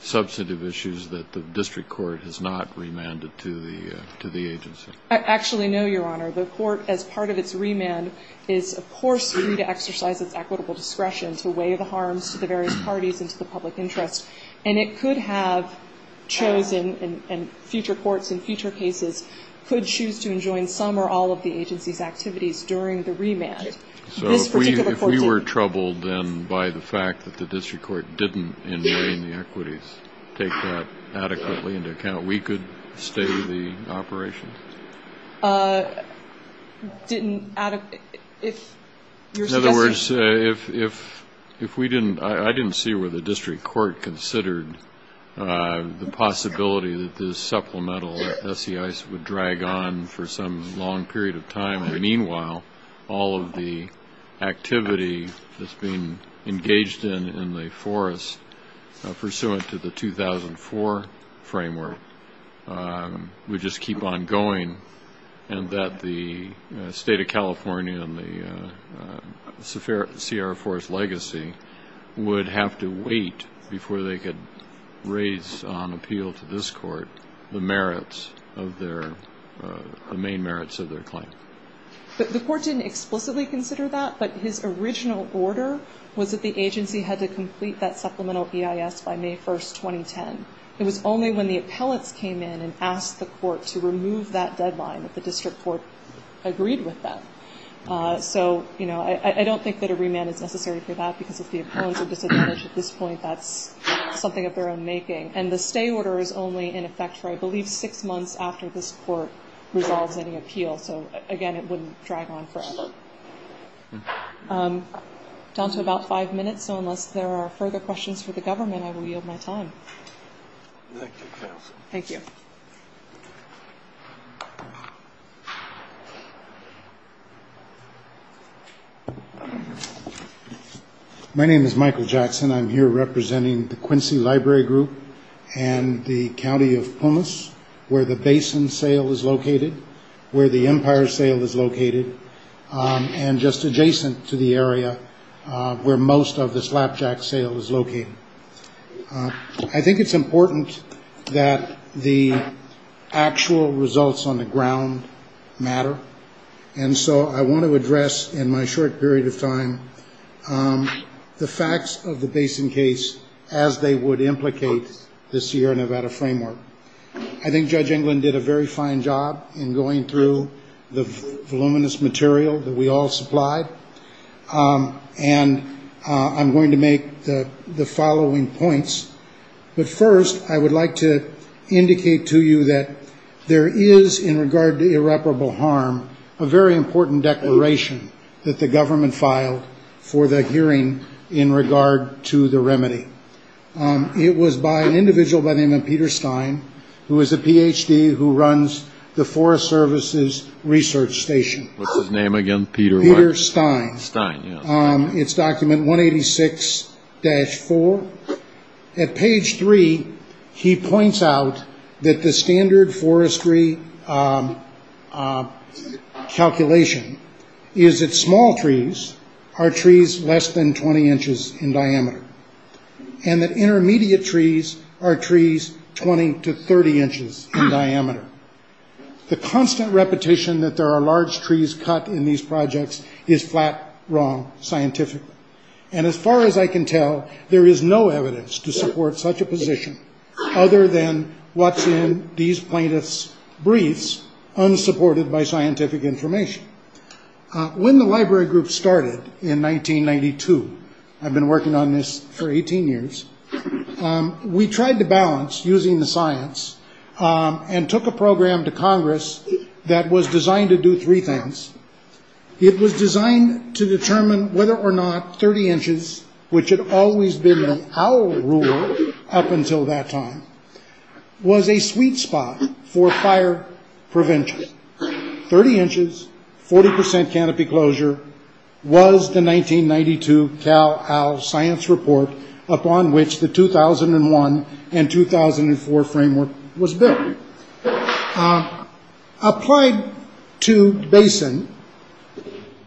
substantive issues that the district court has not remanded to the agency. I actually know, Your Honor, the court, as part of its remand, is, of course, free to exercise its equitable discretion to weigh the harms to the various parties and to the public interest. And it could have chosen, and future courts in future cases could choose to enjoin some or all of the agency's activities during the remand. This particular court didn't. So if we were troubled, then, by the fact that the district court didn't, in weighing the equities, take that adequately into account, we could stay the operation? Didn't, if you're suggesting. I didn't see where the district court considered the possibility that the supplemental SEIS would drag on for some long period of time. Meanwhile, all of the activity that's being engaged in in the forest, pursuant to the 2004 framework, would just keep on going and that the state of California and the Sierra Forest legacy would have to wait before they could raise on appeal to this court the merits of their, the main merits of their claim. The court didn't explicitly consider that, but his original order was that the agency had to complete that supplemental EIS by May 1, 2010. It was only when the appellants came in and asked the court to remove that deadline that the district court agreed with them. So, you know, I don't think that a remand is necessary for that, because if the appellants are disadvantaged at this point, that's something of their own making. And the stay order is only in effect for, I believe, six months after this court resolves any appeal. So, again, it wouldn't drag on forever. We're down to about five minutes, so unless there are further questions for the government, I will yield my time. Thank you, Counsel. Thank you. My name is Michael Jackson. I'm here representing the Quincy Library Group and the County of Pumas, where the Basin sale is located, where the Empire sale is located, and just adjacent to the area where most of the Slapjack sale is located. I think it's important that the actual results on the ground matter, and so I want to address in my short period of time the facts of the Basin case as they would implicate the Sierra Nevada framework. I think Judge England did a very fine job in going through the voluminous material that we all supplied, and I'm going to make the following points. But first, I would like to indicate to you that there is, in regard to irreparable harm, a very important declaration that the government filed for the hearing in regard to the remedy. It was by an individual by the name of Peter Stein, who is a Ph.D. who runs the Forest Service's research station. What's his name again? Peter what? Peter Stein. Stein, yes. It's document 186-4. At page 3, he points out that the standard forestry calculation is that small trees are trees less than 20 inches in diameter, and that intermediate trees are trees 20 to 30 inches in diameter. The constant repetition that there are large trees cut in these projects is flat wrong scientifically, and as far as I can tell, there is no evidence to support such a position other than what's in these plaintiffs' briefs, unsupported by scientific information. When the library group started in 1992, I've been working on this for 18 years, we tried to balance using the science and took a program to Congress that was designed to do three things. It was designed to determine whether or not 30 inches, which had always been the owl rule up until that time, was a sweet spot for fire prevention. 30 inches, 40% canopy closure was the 1992 Cow-Owl Science Report upon which the 2001 and 2004 framework was built. Applied to basin,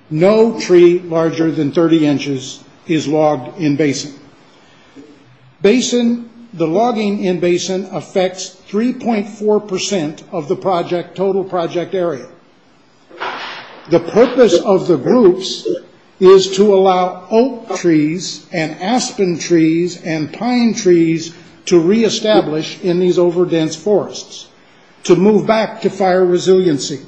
no tree larger than 30 inches is logged in basin. The logging in basin affects 3.4% of the total project area. The purpose of the groups is to allow oak trees and aspen trees and pine trees to reestablish in these over dense forests, to move back to fire resiliency.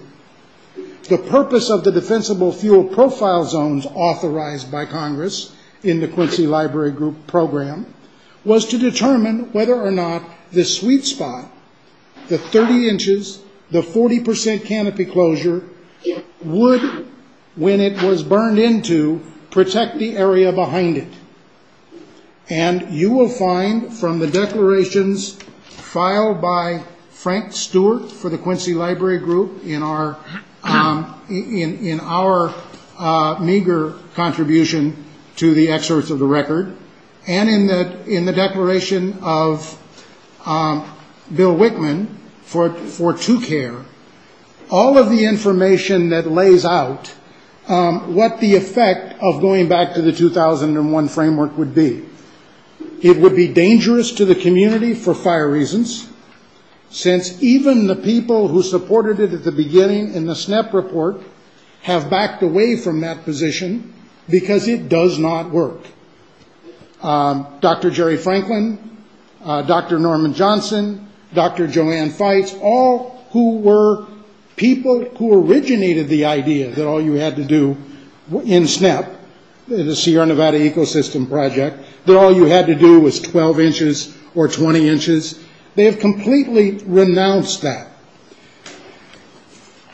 The purpose of the defensible fuel profile zones authorized by Congress in the Quincy Library Group Program was to determine whether or not the sweet spot, the 30 inches, the 40% canopy closure, would, when it was burned into, protect the area behind it. You will find from the declarations filed by Frank Stewart for the Quincy Library Group in our meager contribution to the excerpts of the record and in the declaration of Bill Wickman for 2Care, all of the information that lays out what the effect of going back to the 2001 framework would be. It would be dangerous to the community for fire reasons, since even the people who supported it at the beginning in the SNEP report have backed away from that position because it does not work. Dr. Jerry Franklin, Dr. Norman Johnson, Dr. Joanne Fites, all who were people who originated the idea that all you had to do in SNEP, the Sierra Nevada Ecosystem Project, that all you had to do was 12 inches or 20 inches, they have completely renounced that.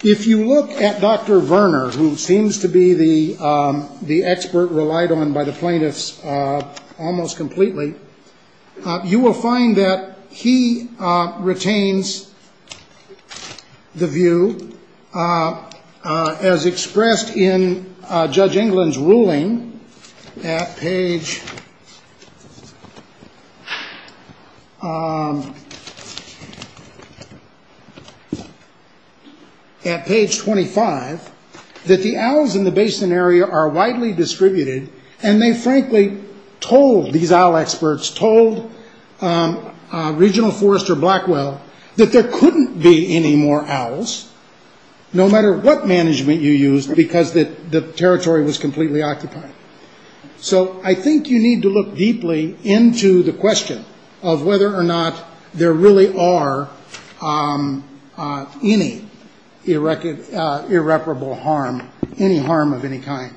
If you look at Dr. Verner, who seems to be the expert relied on by the plaintiffs almost completely, you will find that he retains the view, as expressed in Judge England's ruling at page 25, that the owls in the basin area are widely distributed and they frankly told these owl experts, told Regional Forester Blackwell, that there couldn't be any more owls, no matter what management you used, because the territory was completely occupied. So I think you need to look deeply into the question of whether or not there really are any irreparable harm, any harm of any kind.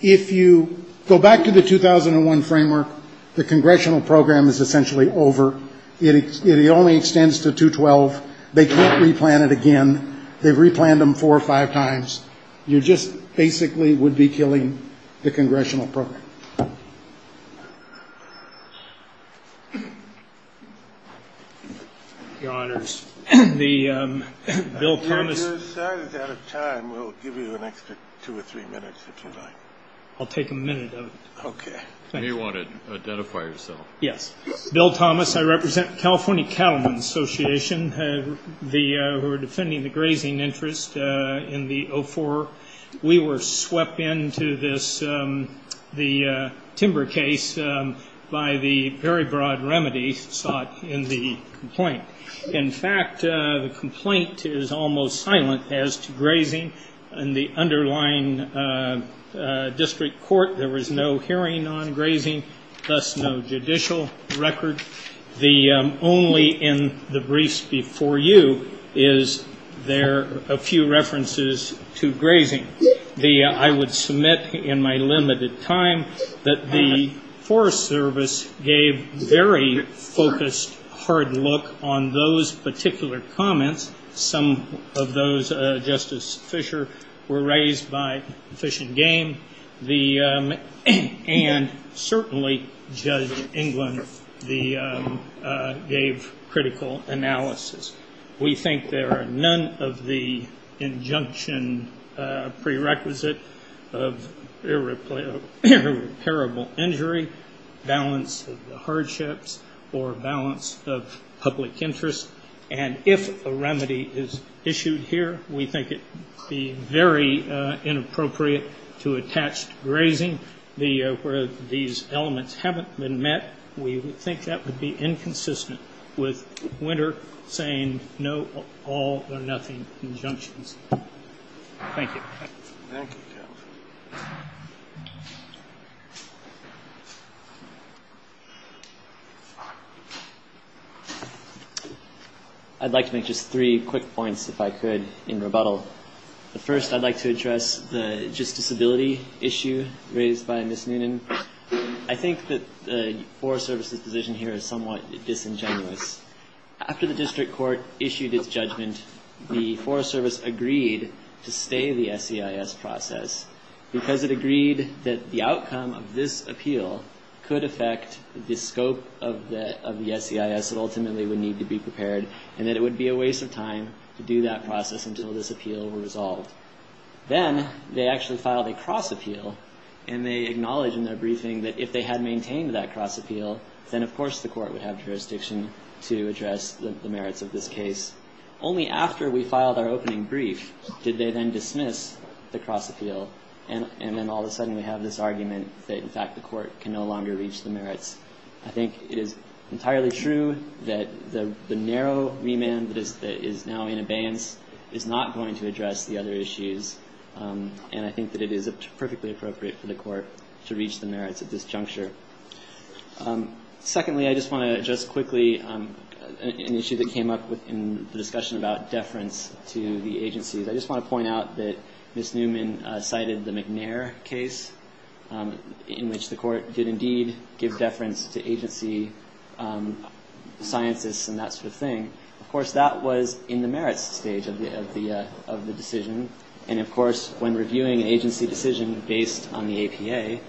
If you go back to the 2001 framework, the congressional program is essentially over. It only extends to 212. They can't re-plan it again. They've re-planned them four or five times. You just basically would be killing the congressional program. Your Honors, Bill Thomas. If you're out of time, we'll give you an extra two or three minutes, if you'd like. I'll take a minute of it. Okay. You may want to identify yourself. Yes. Bill Thomas. I represent California Cattlemen's Association, who are defending the grazing interest in the 04. We were swept into the timber case by the very broad remedy sought in the complaint. In fact, the complaint is almost silent as to grazing. In the underlying district court, there was no hearing on grazing, thus no judicial record. Only in the briefs before you is there a few references to grazing. I would submit in my limited time that the Forest Service gave very focused, hard look on those particular comments. Some of those, Justice Fischer, were raised by Fish and Game, and certainly Judge England gave critical analysis. We think there are none of the injunction prerequisite of irreparable injury, balance of the hardships, or balance of public interest. And if a remedy is issued here, we think it would be very inappropriate to attach to grazing where these elements haven't been met. We think that would be inconsistent with Winter saying no, all or nothing injunctions. Thank you. Thank you. I'd like to make just three quick points, if I could, in rebuttal. The first, I'd like to address the justiciability issue raised by Ms. Noonan. I think that the Forest Service's decision here is somewhat disingenuous. After the district court issued its judgment, the Forest Service agreed to stay the SEIS process, because it agreed that the outcome of this appeal could affect the scope of the SEIS that ultimately would need to be prepared, and that it would be a waste of time to do that process until this appeal were resolved. Then they actually filed a cross-appeal, and they acknowledged in their briefing that if they had maintained that cross-appeal, then of course the court would have jurisdiction to address the merits of this case. Only after we filed our opening brief did they then dismiss the cross-appeal, and then all of a sudden we have this argument that, in fact, the court can no longer reach the merits. I think it is entirely true that the narrow remand that is now in abeyance is not going to address the other issues, and I think that it is perfectly appropriate for the court to reach the merits at this juncture. Secondly, I just want to address quickly an issue that came up in the discussion about deference to the agencies. I just want to point out that Ms. Noonan cited the McNair case, in which the court did indeed give deference to agency scientists and that sort of thing. Of course, that was in the merits stage of the decision, and of course, when reviewing an agency decision based on the APA,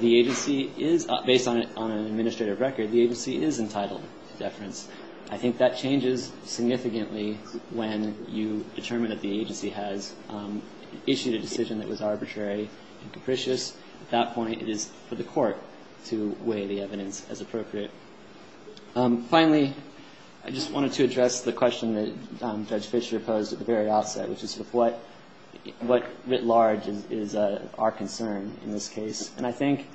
based on an administrative record, the agency is entitled to deference. I think that changes significantly when you determine that the agency has issued a decision that was arbitrary and capricious. At that point, it is for the court to weigh the evidence as appropriate. Finally, I just wanted to address the question that Judge Fischer posed at the very outset, which is what, writ large, is our concern in this case. I think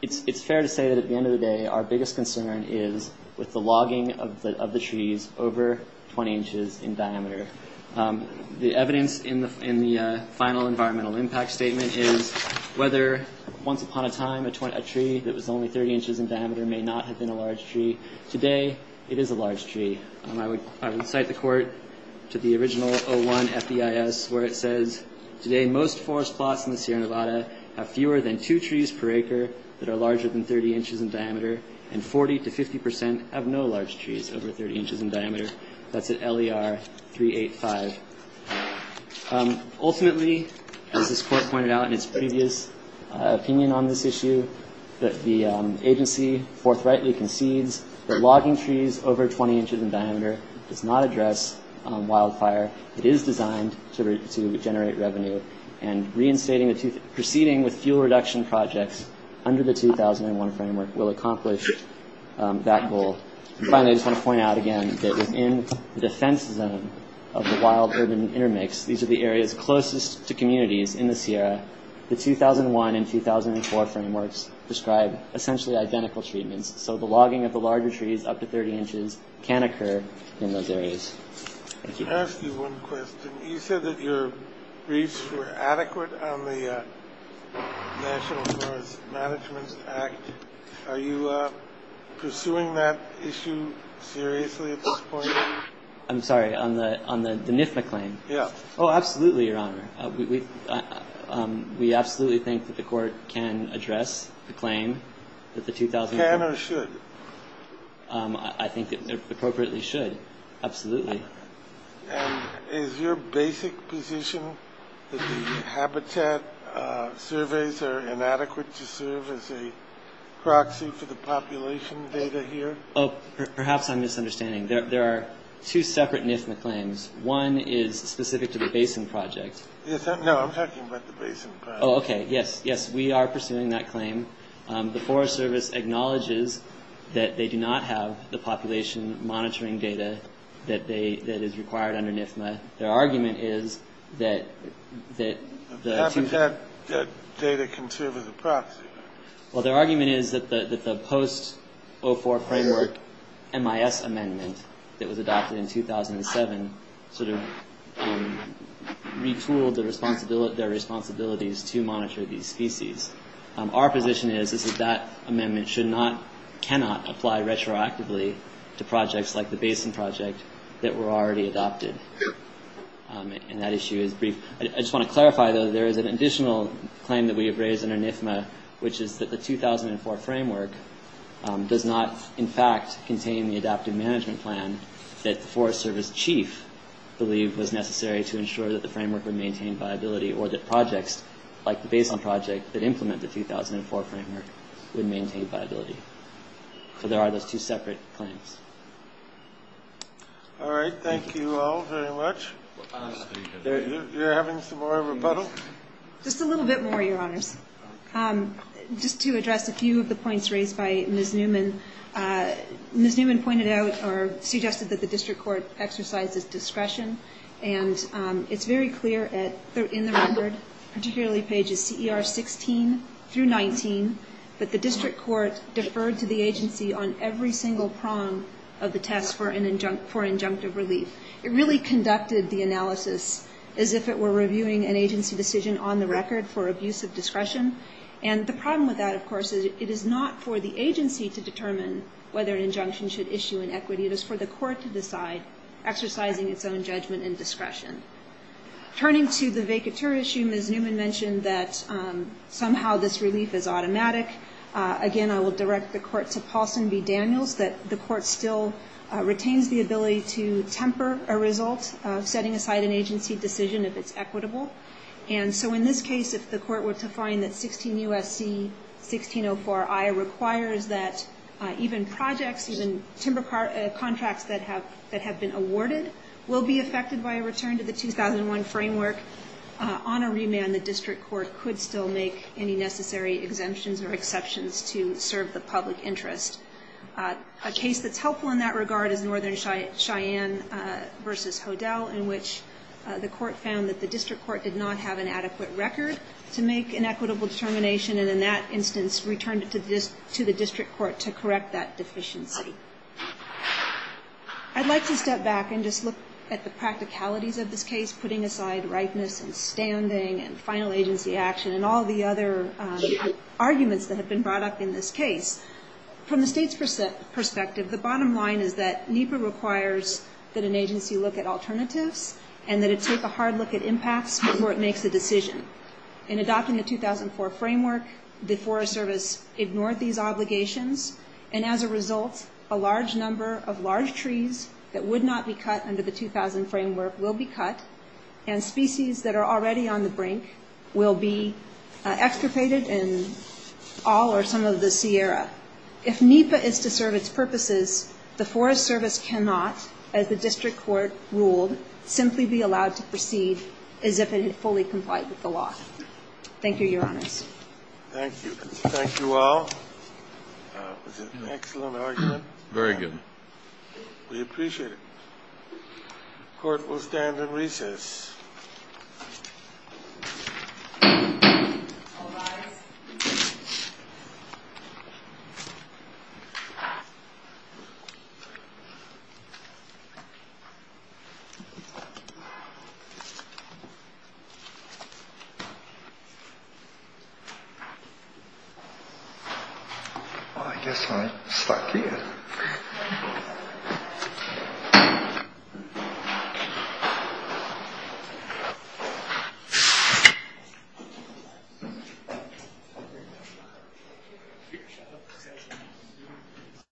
it is fair to say that at the end of the day, our biggest concern is with the logging of the trees over 20 inches in diameter. The evidence in the final environmental impact statement is whether, once upon a time, a tree that was only 30 inches in diameter may not have been a large tree. Today, it is a large tree. I would cite the court to the original 01 FDIS, where it says, Today, most forest plots in the Sierra Nevada have fewer than two trees per acre that are larger than 30 inches in diameter, and 40 to 50 percent have no large trees over 30 inches in diameter. That's at LER 385. Ultimately, as this court pointed out in its previous opinion on this issue, that the agency forthrightly concedes that logging trees over 20 inches in diameter does not address wildfire. It is designed to generate revenue, and proceeding with fuel reduction projects under the 2001 framework will accomplish that goal. Finally, I just want to point out again that within the defense zone of the wild urban intermix, these are the areas closest to communities in the Sierra. The 2001 and 2004 frameworks describe essentially identical treatments, so the logging of the larger trees up to 30 inches can occur in those areas. Thank you. Let me ask you one question. You said that your briefs were adequate on the National Forest Management Act. Are you pursuing that issue seriously at this point? I'm sorry. On the NIFMA claim? Yeah. Oh, absolutely, Your Honor. We absolutely think that the court can address the claim that the 2004— Can or should? I think it appropriately should. Absolutely. And is your basic position that the habitat surveys are inadequate to serve as a proxy for the population data here? Perhaps I'm misunderstanding. There are two separate NIFMA claims. One is specific to the basin project. No, I'm talking about the basin project. Oh, okay. Yes, yes, we are pursuing that claim. The Forest Service acknowledges that they do not have the population monitoring data that is required under NIFMA. Their argument is that— The habitat data can serve as a proxy. Well, their argument is that the post-04 framework MIS amendment that was adopted in 2007 sort of retooled their responsibilities to monitor these species. Our position is that that amendment cannot apply retroactively to projects like the basin project that were already adopted. And that issue is brief. I just want to clarify, though, there is an additional claim that we have raised under NIFMA, which is that the 2004 framework does not, in fact, contain the adaptive management plan that the Forest Service chief believed was necessary to ensure that the framework would maintain viability or that projects like the basin project that implement the 2004 framework would maintain viability. So there are those two separate claims. All right. Thank you all very much. You're having some more rebuttal? Just a little bit more, Your Honors. Just to address a few of the points raised by Ms. Newman. Ms. Newman pointed out or suggested that the district court exercises discretion. And it's very clear in the record, particularly pages CER 16 through 19, that the district court deferred to the agency on every single prong of the test for injunctive relief. It really conducted the analysis as if it were reviewing an agency decision on the record for abuse of discretion. And the problem with that, of course, is it is not for the agency to determine whether an injunction should issue an equity. It is for the court to decide, exercising its own judgment and discretion. Turning to the vacatur issue, Ms. Newman mentioned that somehow this relief is automatic. Again, I will direct the court to Paulson v. Daniels that the court still retains the ability to temper a result, setting aside an agency decision if it's equitable. And so in this case, if the court were to find that 16 U.S.C. 1604I requires that even projects, even timber contracts that have been awarded will be affected by a return to the 2001 framework, on a remand the district court could still make any necessary exemptions or exceptions to serve the public interest. A case that's helpful in that regard is Northern Cheyenne v. Hodel, in which the court found that the district court did not have an adequate record to make an equitable determination and in that instance returned it to the district court to correct that deficiency. I'd like to step back and just look at the practicalities of this case, putting aside rightness and standing and final agency action and all the other arguments that have been brought up in this case. From the state's perspective, the bottom line is that NEPA requires that an agency look at alternatives and that it take a hard look at impacts before it makes a decision. In adopting the 2004 framework, the Forest Service ignored these obligations and as a result a large number of large trees that would not be cut under the 2000 framework will be cut and species that are already on the brink will be extirpated in all or some of the Sierra. If NEPA is to serve its purposes, the Forest Service cannot, as the district court ruled, simply be allowed to proceed as if it had fully complied with the law. Thank you, Your Honors. Thank you. Thank you all. Was it an excellent argument? Very good. We appreciate it. Court will stand at recess. I guess I'm stuck here. Thank you.